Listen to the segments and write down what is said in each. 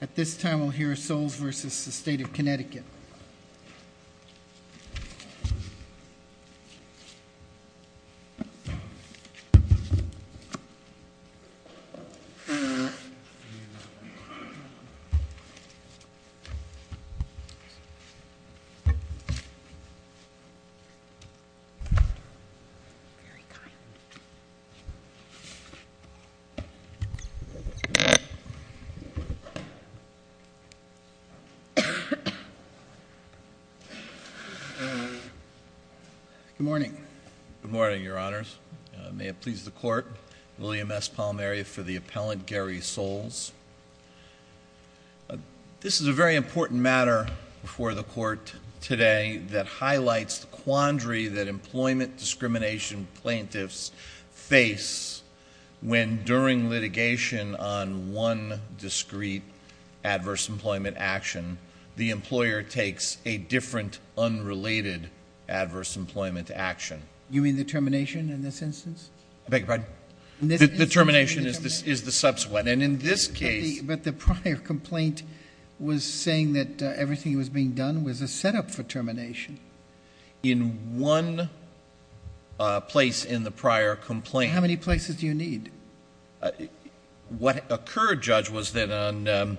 At this time, we'll hear Soules v. State of Connecticut. William S. Palmieri for the Appellant Gary Soules. This is a very important matter before the Court today that highlights the quandary that employment discrimination plaintiffs face when during litigation on one discreet adverse employment action, the employer takes a different, unrelated adverse employment action. You mean the termination in this instance? I beg your pardon? The termination is the subsequent, and in this case... But the prior complaint was saying that everything that was being done was a setup for termination. In one place in the prior complaint. How many places do you need? What occurred, Judge, was that on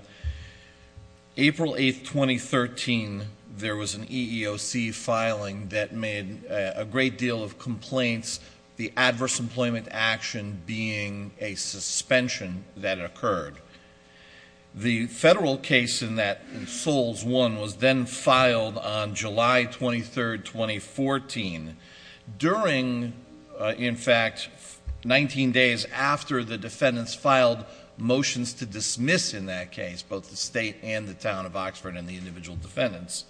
April 8, 2013, there was an EEOC filing that made a great deal of complaints, the adverse employment action being a suspension that occurred. The federal case in that, Soules 1, was then filed on July 23, 2014. During, in fact, 19 days after the defendants filed motions to dismiss in that case both the state and the town of Oxford and the individual defendants,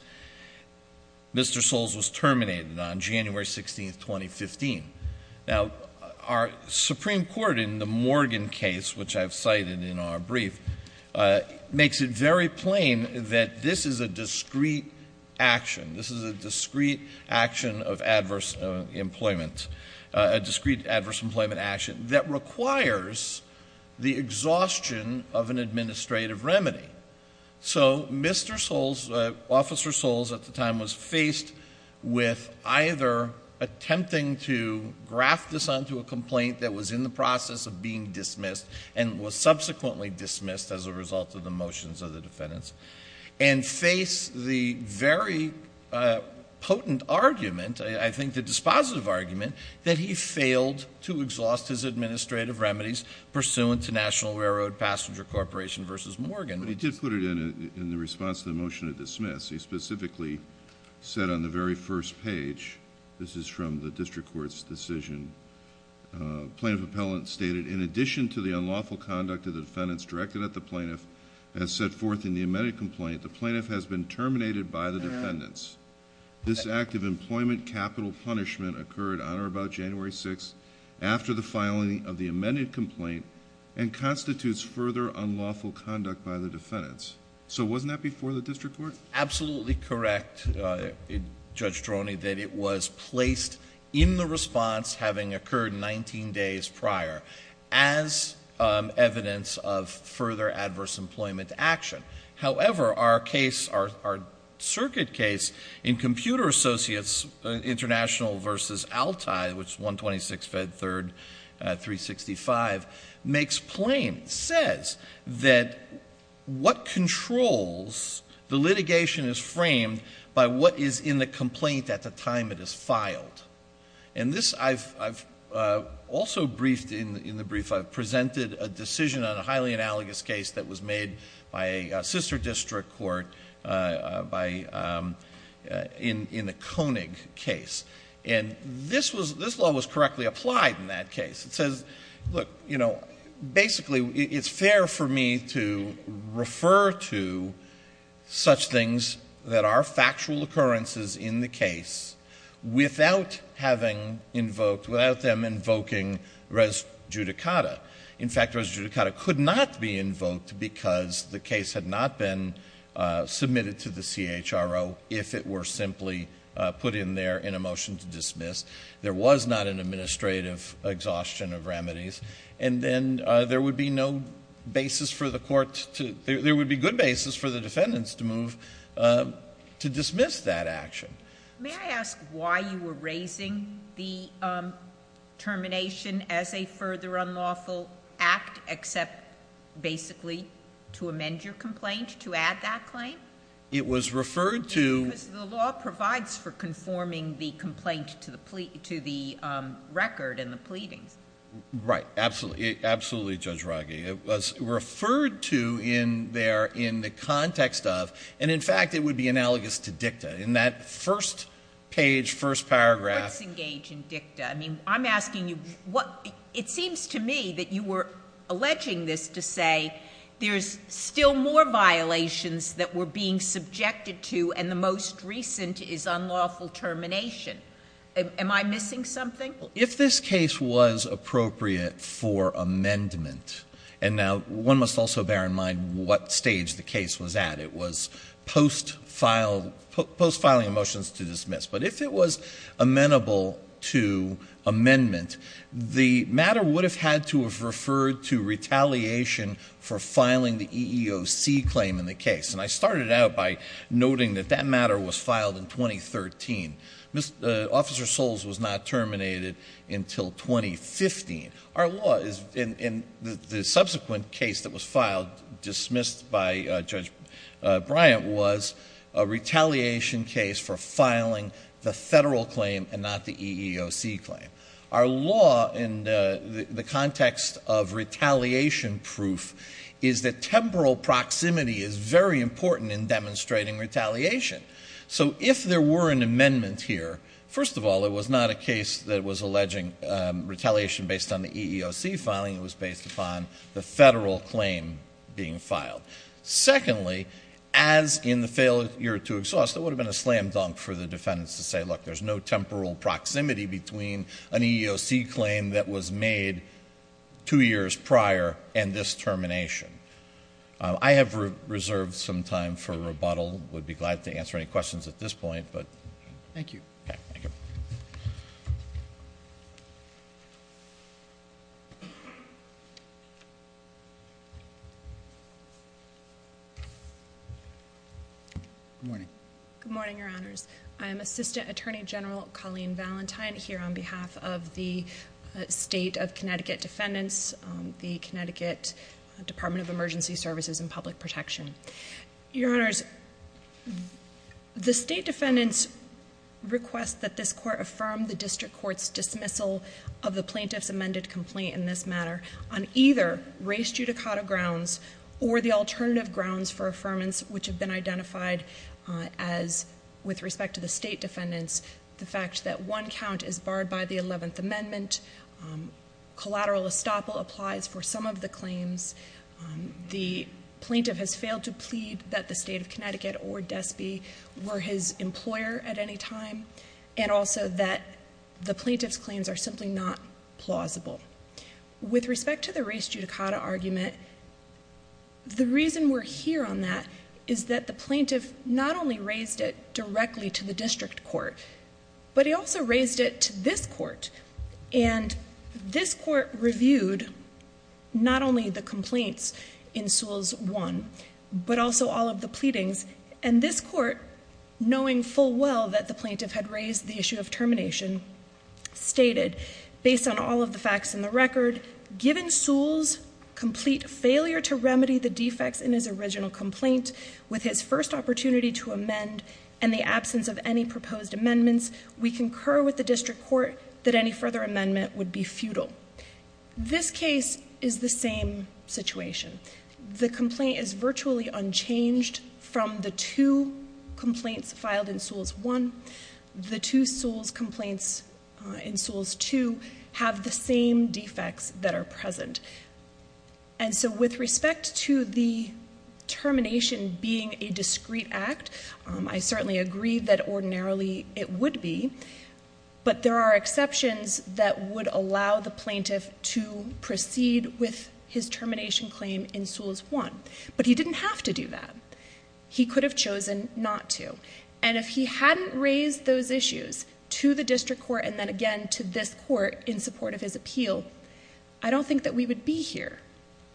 Mr. Soules was terminated on January 16, 2015. Now, our Supreme Court in the Morgan case, which I've cited in our brief, makes it very plain that this is a discreet action. This is a discreet action of adverse employment, a discreet adverse employment action that requires the exhaustion of an administrative remedy. So, Mr. Soules, Officer Soules at the time, was faced with either attempting to graft this onto a complaint that was in the process of being dismissed, and was subsequently dismissed as a result of the motions of the defendants, and faced the very potent argument, I think the dispositive argument, that he failed to exhaust his administrative remedies pursuant to National Railroad Passenger Corporation v. Morgan. But he did put it in the response to the motion to dismiss. He specifically said on the very first page, this is from the district court's decision, plaintiff appellant stated, in addition to the unlawful conduct of the defendants directed at the plaintiff, as set forth in the amended complaint, the plaintiff has been terminated by the defendants. This act of employment capital punishment occurred on or about January 6th, after the filing of the amended complaint, and constitutes further unlawful conduct by the defendants. So wasn't that before the district court? Absolutely correct, Judge Droney, that it was placed in the response, having occurred 19 days prior, as evidence of further adverse employment action. However, our case, our circuit case in Computer Associates International v. Altai, which is 126 Fed 3rd, 365, makes plain, says that what controls the litigation is framed by what is in the complaint at the time it is filed. And this, I've also briefed in the brief, I've presented a decision on a highly analogous case that was made by a sister district court in the Koenig case. And this law was correctly applied in that case. It says, look, basically it's fair for me to refer to such things that are factual occurrences in the case, without having invoked, without them invoking res judicata. In fact, res judicata could not be invoked because the case had not been submitted to the CHRO, if it were simply put in there in a motion to dismiss. There was not an administrative exhaustion of remedies. And then there would be no basis for the court to, there would be good basis for the defendants to move to dismiss that action. May I ask why you were raising the termination as a further unlawful act, except basically to amend your complaint, to add that claim? It was referred to... Because the law provides for conforming the complaint to the record and the pleadings. Right. Absolutely. Absolutely, Judge Raghi. It was referred to in there in the context of, and in fact, it would be analogous to dicta. In that first page, first paragraph... Let's engage in dicta. I mean, I'm asking you what, it seems to me that you were alleging this to say there's still more violations that were being subjected to, and the most recent is unlawful termination. Am I missing something? If this case was appropriate for amendment, and now one must also bear in mind what stage the case was at. It was post-filing of motions to dismiss. But if it was amenable to amendment, the matter would have had to have referred to retaliation for filing the EEOC claim in the case. And I started out by noting that that matter was filed in 2013. Officer Soles was not terminated until 2015. Our law is, in the subsequent case that was filed, dismissed by Judge Bryant, was a retaliation case for filing the federal claim and not the EEOC claim. Our law in the context of retaliation proof is that temporal proximity is very important in demonstrating retaliation. So if there were an amendment here, first of all, it was not a case that was alleging retaliation based on the EEOC filing. It was based upon the federal claim being filed. Secondly, as in the failure to exhaust, it would have been a slam dunk for the defendants to say, look, there's no temporal proximity between an EEOC claim that was made two years prior and this termination. I have reserved some time for rebuttal. I would be glad to answer any questions at this point. Thank you. Good morning. Good morning, Your Honors. I am Assistant Attorney General Colleen Valentine here on behalf of the State of Connecticut Defendants, the Connecticut Department of Emergency Services and Public Protection. Your Honors, the state defendants request that this court affirm the district court's dismissal of the plaintiff's amended complaint in this matter on either race judicata grounds or the alternative grounds for affirmance which have been identified as, with respect to the state defendants, the fact that one count is barred by the 11th Amendment. Collateral estoppel applies for some of the claims. The plaintiff has failed to plead that the State of Connecticut or DSPE were his employer at any time and also that the plaintiff's claims are simply not plausible. With respect to the race judicata argument, the reason we're here on that is that the plaintiff not only raised it directly to the district court, but he also raised it to this court. And this court reviewed not only the complaints in Sewell's one, but also all of the pleadings. And this court, knowing full well that the plaintiff had raised the issue of termination, stated, based on all of the facts in the record, given Sewell's complete failure to remedy the defects in his original complaint with his first opportunity to amend and the absence of any proposed amendments, we concur with the district court that any further amendment would be futile. This case is the same situation. The complaint is virtually unchanged from the two complaints filed in Sewell's one. The two Sewell's complaints in Sewell's two have the same defects that are present. And so with respect to the termination being a discreet act, I certainly agree that ordinarily it would be, but there are exceptions that would allow the plaintiff to proceed with his termination claim in Sewell's one. But he didn't have to do that. He could have chosen not to. And if he hadn't raised those issues to the district court and then again to this court in support of his appeal, I don't think that we would be here.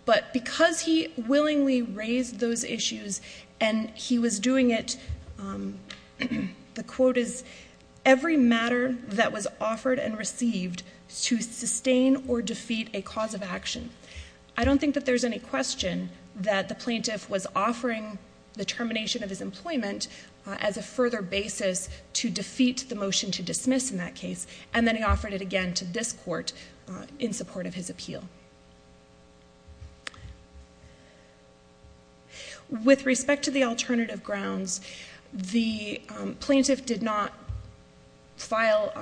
But because he willingly raised those issues and he was doing it, the quote is, every matter that was offered and received to sustain or defeat a cause of action. I don't think that there's any question that the plaintiff was offering the termination of his employment as a further basis to defeat the motion to dismiss in that case, and then he offered it again to this court in support of his appeal. With respect to the alternative grounds, the plaintiff did not file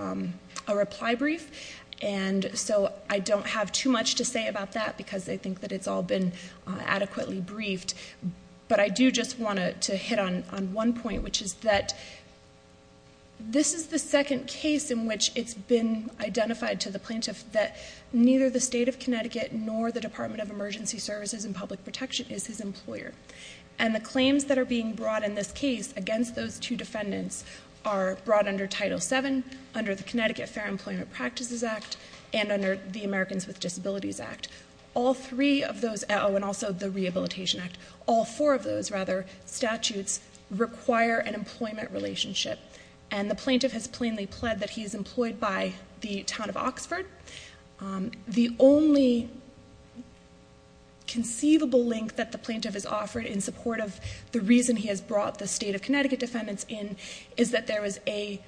a reply brief, and so I don't have too much to say about that because I think that it's all been adequately briefed. But I do just want to hit on one point, which is that this is the second case in which it's been identified to the plaintiff that neither the state of Connecticut nor the Department of Emergency Services and Public Protection is his employer. And the claims that are being brought in this case against those two defendants are brought under Title VII, under the Connecticut Fair Employment Practices Act, and under the Americans with Disabilities Act. All three of those, and also the Rehabilitation Act, all four of those, rather, statutes require an employment relationship. And the plaintiff has plainly pled that he is employed by the town of Oxford. The only conceivable link that the plaintiff has offered in support of the reason he has brought the state of Connecticut defendants in is that there was a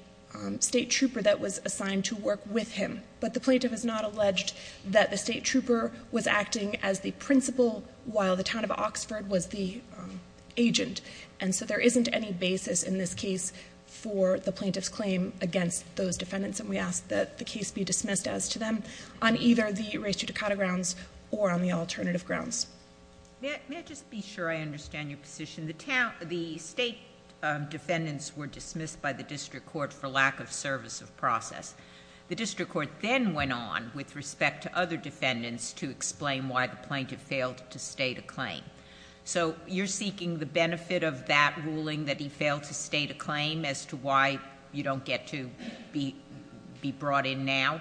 state trooper that was assigned to work with him. But the plaintiff has not alleged that the state trooper was acting as the principal, while the town of Oxford was the agent. And so there isn't any basis in this case for the plaintiff's claim against those defendants, and we ask that the case be dismissed as to them on either the res judicata grounds or on the alternative grounds. May I just be sure I understand your position? The state defendants were dismissed by the district court for lack of service of process. The district court then went on with respect to other defendants to explain why the plaintiff failed to state a claim. So you're seeking the benefit of that ruling that he failed to state a claim as to why you don't get to be brought in now?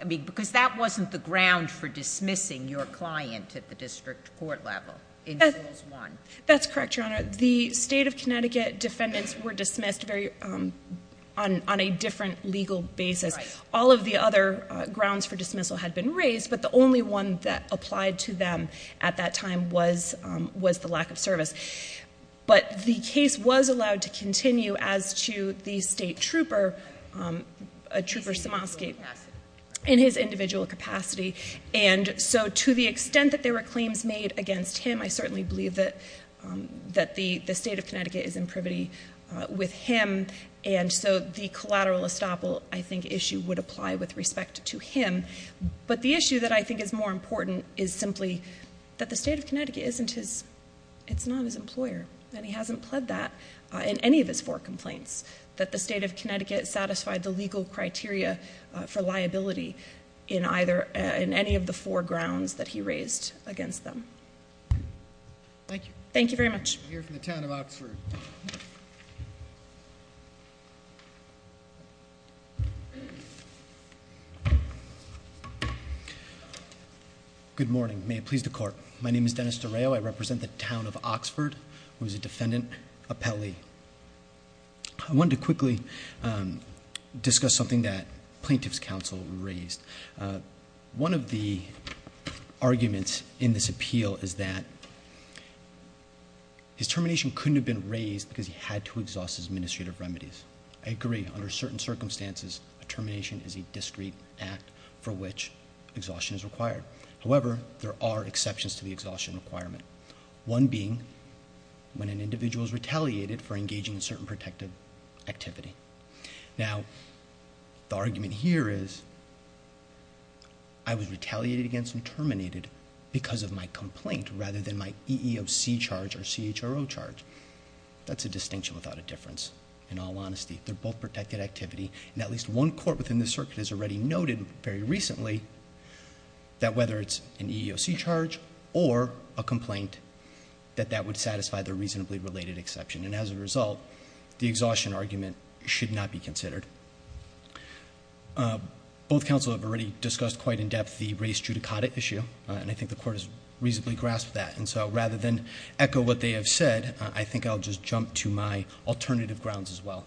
I mean, because that wasn't the ground for dismissing your client at the district court level in Rules 1. That's correct, Your Honor. The state of Connecticut defendants were dismissed on a different legal basis. All of the other grounds for dismissal had been raised, but the only one that applied to them at that time was the lack of service. But the case was allowed to continue as to the state trooper, Trooper Samosky, in his individual capacity. And so to the extent that there were claims made against him, I certainly believe that the state of Connecticut is in privity with him. And so the collateral estoppel, I think, issue would apply with respect to him. But the issue that I think is more important is simply that the state of Connecticut isn't his, it's not his employer, and he hasn't pled that in any of his four complaints, that the state of Connecticut satisfied the legal criteria for liability in any of the four grounds that he raised against them. Thank you. Thank you very much. We'll hear from the town of Oxford. Good morning. May it please the court. My name is Dennis D'Oreo. I represent the town of Oxford. I was a defendant appellee. I wanted to quickly discuss something that plaintiff's counsel raised. One of the arguments in this appeal is that his termination couldn't have been raised because he had to exhaust his administrative remedies. I agree. Under certain circumstances, a termination is a discrete act for which exhaustion is required. However, there are exceptions to the exhaustion requirement. One being when an individual is retaliated for engaging in certain protective activity. Now, the argument here is I was retaliated against and terminated because of my complaint rather than my EEOC charge or CHRO charge. That's a distinction without a difference, in all honesty. They're both protected activity. At least one court within the circuit has already noted very recently that whether it's an EEOC charge or a complaint, that that would satisfy the reasonably related exception. As a result, the exhaustion argument should not be considered. Both counsel have already discussed quite in depth the race judicata issue. I think the court has reasonably grasped that. Rather than echo what they have said, I think I'll just jump to my alternative grounds as well.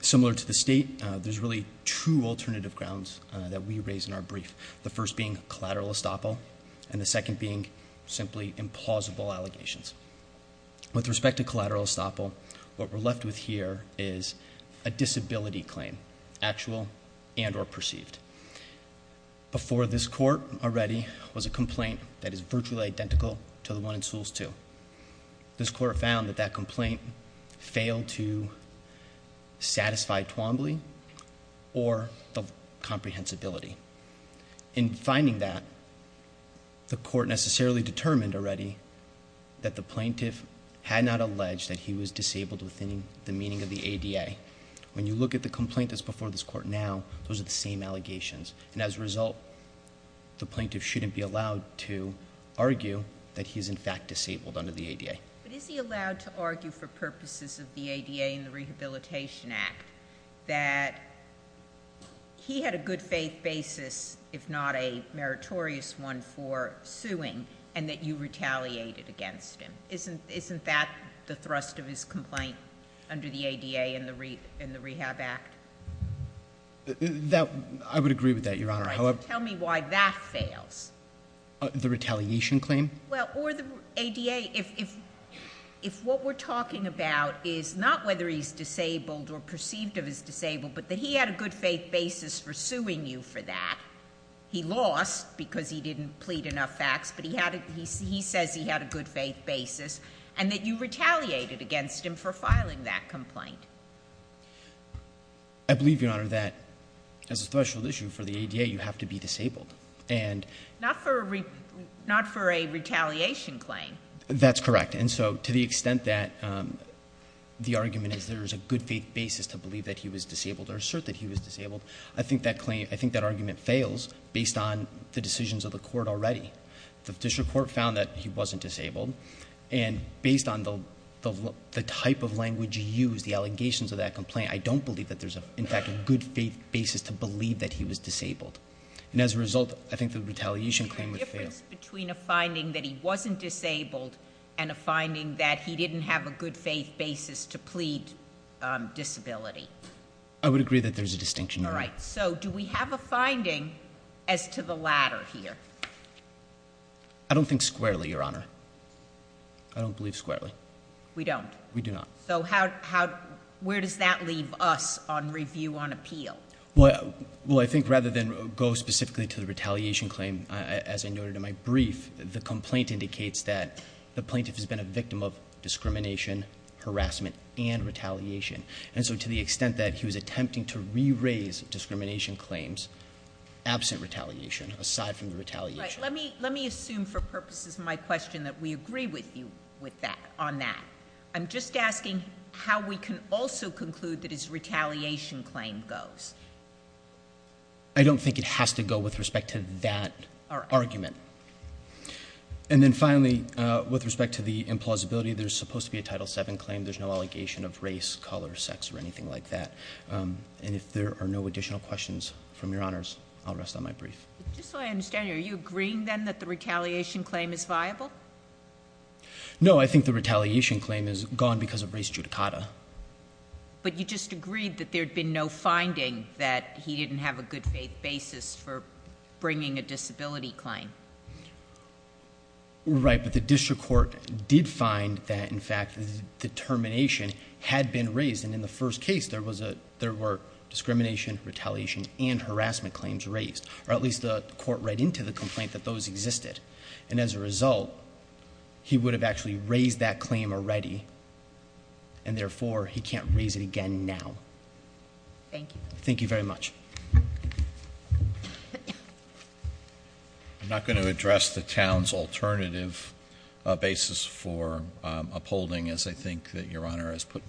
Similar to the state, there's really two alternative grounds that we raise in our brief. The first being collateral estoppel. And the second being simply implausible allegations. With respect to collateral estoppel, what we're left with here is a disability claim. Actual and or perceived. Before this court already was a complaint that is virtually identical to the one in Sewell's 2. This court found that that complaint failed to satisfy Twombly or the comprehensibility. In finding that, the court necessarily determined already that the plaintiff had not alleged that he was disabled within the meaning of the ADA. When you look at the complaint that's before this court now, those are the same allegations. And as a result, the plaintiff shouldn't be allowed to argue that he's in fact disabled under the ADA. But is he allowed to argue for purposes of the ADA and the Rehabilitation Act that he had a good faith basis, if not a meritorious one for suing, and that you retaliated against him? Isn't that the thrust of his complaint under the ADA and the Rehab Act? I would agree with that, Your Honor. Tell me why that fails. The retaliation claim? Well, or the ADA. If what we're talking about is not whether he's disabled or perceived of as disabled, but that he had a good faith basis for suing you for that. He lost because he didn't plead enough facts, but he says he had a good faith basis, and that you retaliated against him for filing that complaint. I believe, Your Honor, that as a special issue for the ADA, you have to be disabled. Not for a retaliation claim. That's correct. And so to the extent that the argument is there is a good faith basis to believe that he was disabled or assert that he was disabled, I think that argument fails based on the decisions of the court already. The district court found that he wasn't disabled, and based on the type of language used, the allegations of that complaint, I don't believe that there's, in fact, a good faith basis to believe that he was disabled. And as a result, I think the retaliation claim would fail. Is there a difference between a finding that he wasn't disabled and a finding that he didn't have a good faith basis to plead disability? I would agree that there's a distinction. All right. So do we have a finding as to the latter here? I don't think squarely, Your Honor. I don't believe squarely. We don't? We do not. So where does that leave us on review on appeal? Well, I think rather than go specifically to the retaliation claim, as I noted in my brief, the complaint indicates that the plaintiff has been a victim of discrimination, harassment, and retaliation. And so to the extent that he was attempting to re-raise discrimination claims absent retaliation, aside from the retaliation. Right. Let me assume for purposes of my question that we agree with you on that. I'm just asking how we can also conclude that his retaliation claim goes. I don't think it has to go with respect to that argument. All right. And then finally, with respect to the implausibility, there's supposed to be a Title VII claim. There's no allegation of race, color, sex, or anything like that. And if there are no additional questions from Your Honors, I'll rest on my brief. Just so I understand, are you agreeing then that the retaliation claim is viable? No, I think the retaliation claim is gone because of race judicata. But you just agreed that there had been no finding that he didn't have a good faith basis for bringing a disability claim. Right, but the district court did find that, in fact, the termination had been raised. And in the first case, there were discrimination, retaliation, and harassment claims raised. Or at least the court read into the complaint that those existed. And as a result, he would have actually raised that claim already. And therefore, he can't raise it again now. Thank you. Thank you very much. I'm not going to address the town's alternative basis for upholding, as I think that Your Honor has put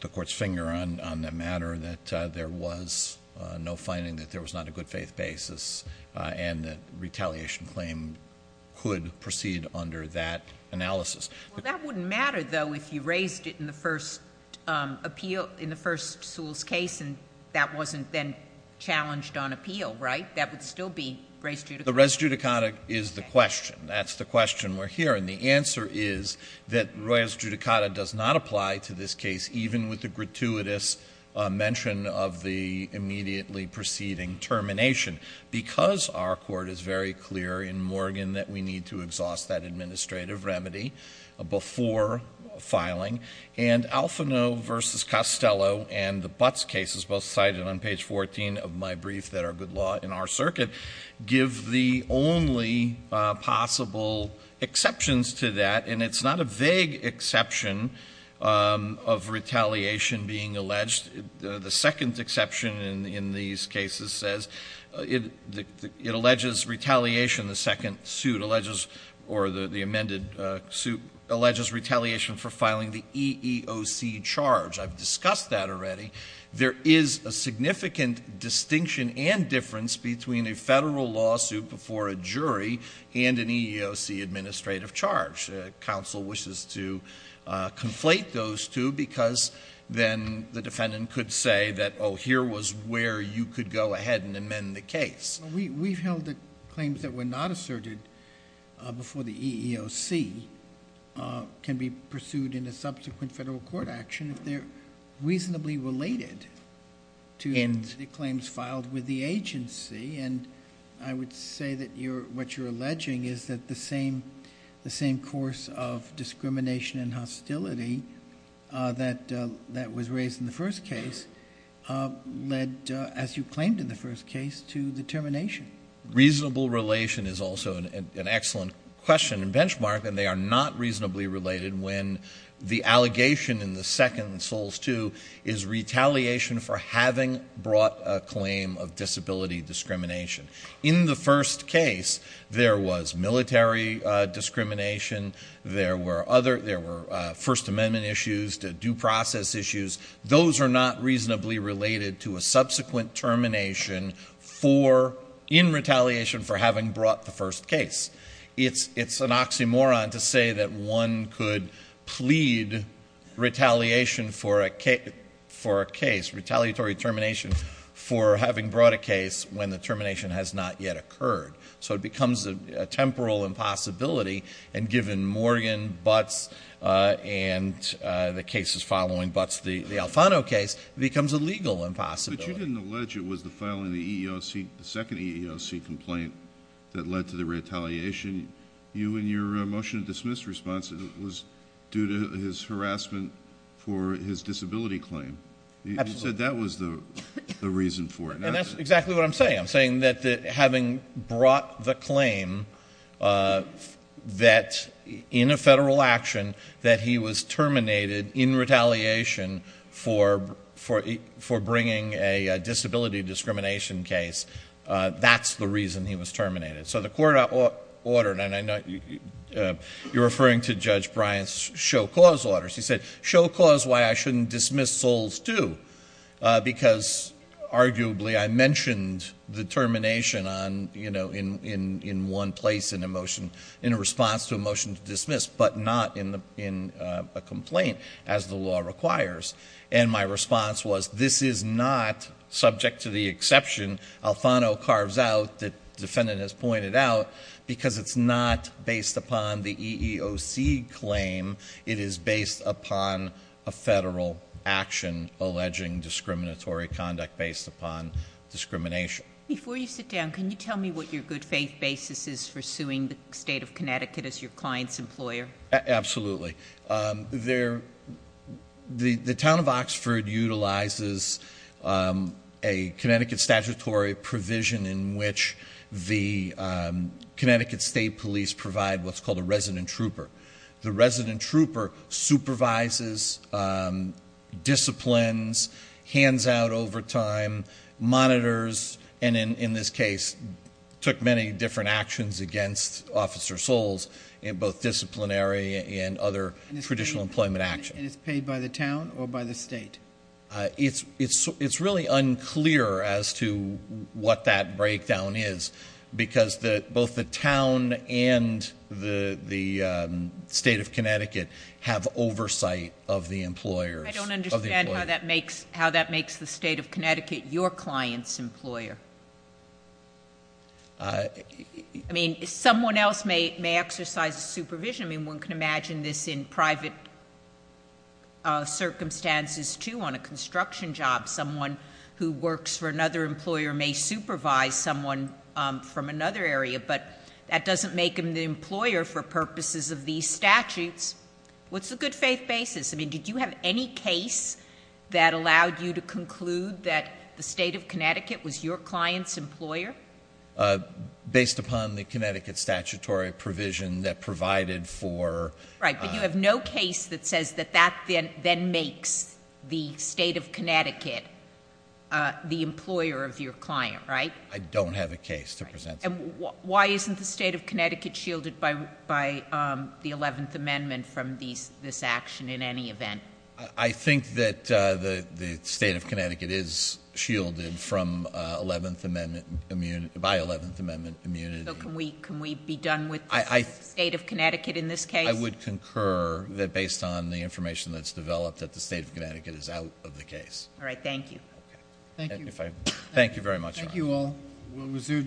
the court's finger on the matter that there was no finding that there was not a good faith basis. And the retaliation claim could proceed under that analysis. Well, that wouldn't matter, though, if you raised it in the first appeal, in the first Sewell's case, and that wasn't then challenged on appeal, right? That would still be race judicata. The race judicata is the question. That's the question we're hearing. The answer is that race judicata does not apply to this case, even with the gratuitous mention of the immediately preceding termination, because our court is very clear in Morgan that we need to exhaust that administrative remedy before filing. And Alfano v. Costello and the Butts cases, both cited on page 14 of my brief that are good law in our circuit, give the only possible exceptions to that. And it's not a vague exception of retaliation being alleged. The second exception in these cases says it alleges retaliation. The second suit alleges or the amended suit alleges retaliation for filing the EEOC charge. I've discussed that already. There is a significant distinction and difference between a federal lawsuit before a jury and an EEOC administrative charge. Counsel wishes to conflate those two because then the defendant could say that, oh, here was where you could go ahead and amend the case. We've held that claims that were not asserted before the EEOC can be pursued in a subsequent federal court action if they're reasonably related to the claims filed with the agency. And I would say that what you're alleging is that the same course of discrimination and hostility that was raised in the first case led, as you claimed in the first case, to the termination. Reasonable relation is also an excellent question and benchmark, and they are not reasonably related when the allegation in the second, Soles II, is retaliation for having brought a claim of disability discrimination. In the first case, there was military discrimination. There were First Amendment issues, due process issues. Those are not reasonably related to a subsequent termination in retaliation for having brought the first case. It's an oxymoron to say that one could plead retaliation for a case, retaliatory termination for having brought a case when the termination has not yet occurred. So it becomes a temporal impossibility. And given Morgan, Butts, and the cases following Butts, the Alfano case, it becomes a legal impossibility. But you didn't allege it was the filing of the EEOC, the second EEOC complaint that led to the retaliation. You, in your motion to dismiss response, it was due to his harassment for his disability claim. You said that was the reason for it. And that's exactly what I'm saying. I'm saying that having brought the claim that in a federal action that he was terminated in retaliation for bringing a disability discrimination case, that's the reason he was terminated. So the court ordered, and I know you're referring to Judge Bryant's show cause orders. She said, show cause why I shouldn't dismiss souls too, because arguably I mentioned the termination in one place in a motion, in a response to a motion to dismiss, but not in a complaint, as the law requires. And my response was, this is not subject to the exception Alfano carves out, as the defendant has pointed out, because it's not based upon the EEOC claim. It is based upon a federal action alleging discriminatory conduct based upon discrimination. Before you sit down, can you tell me what your good faith basis is for suing the state of Connecticut as your client's employer? Absolutely. The town of Oxford utilizes a Connecticut statutory provision in which the Connecticut State Police provide what's called a resident trooper. The resident trooper supervises disciplines, hands out over time, monitors, and in this case, took many different actions against Officer Souls in both disciplinary and other traditional employment actions. And it's paid by the town or by the state? It's really unclear as to what that breakdown is, because both the town and the state of Connecticut have oversight of the employers. I don't understand how that makes the state of Connecticut your client's employer. I mean, someone else may exercise supervision. I mean, one can imagine this in private circumstances, too, on a construction job. Someone who works for another employer may supervise someone from another area, but that doesn't make them the employer for purposes of these statutes. What's the good faith basis? I mean, did you have any case that allowed you to conclude that the state of Connecticut was your client's employer? Based upon the Connecticut statutory provision that provided for... Right, but you have no case that says that that then makes the state of Connecticut the employer of your client, right? I don't have a case to present. And why isn't the state of Connecticut shielded by the 11th Amendment from this action in any event? I think that the state of Connecticut is shielded by 11th Amendment immunity. So can we be done with the state of Connecticut in this case? I would concur that based on the information that's developed, that the state of Connecticut is out of the case. All right, thank you. Thank you. Thank you very much, Your Honor. Thank you all. We'll reserve decision.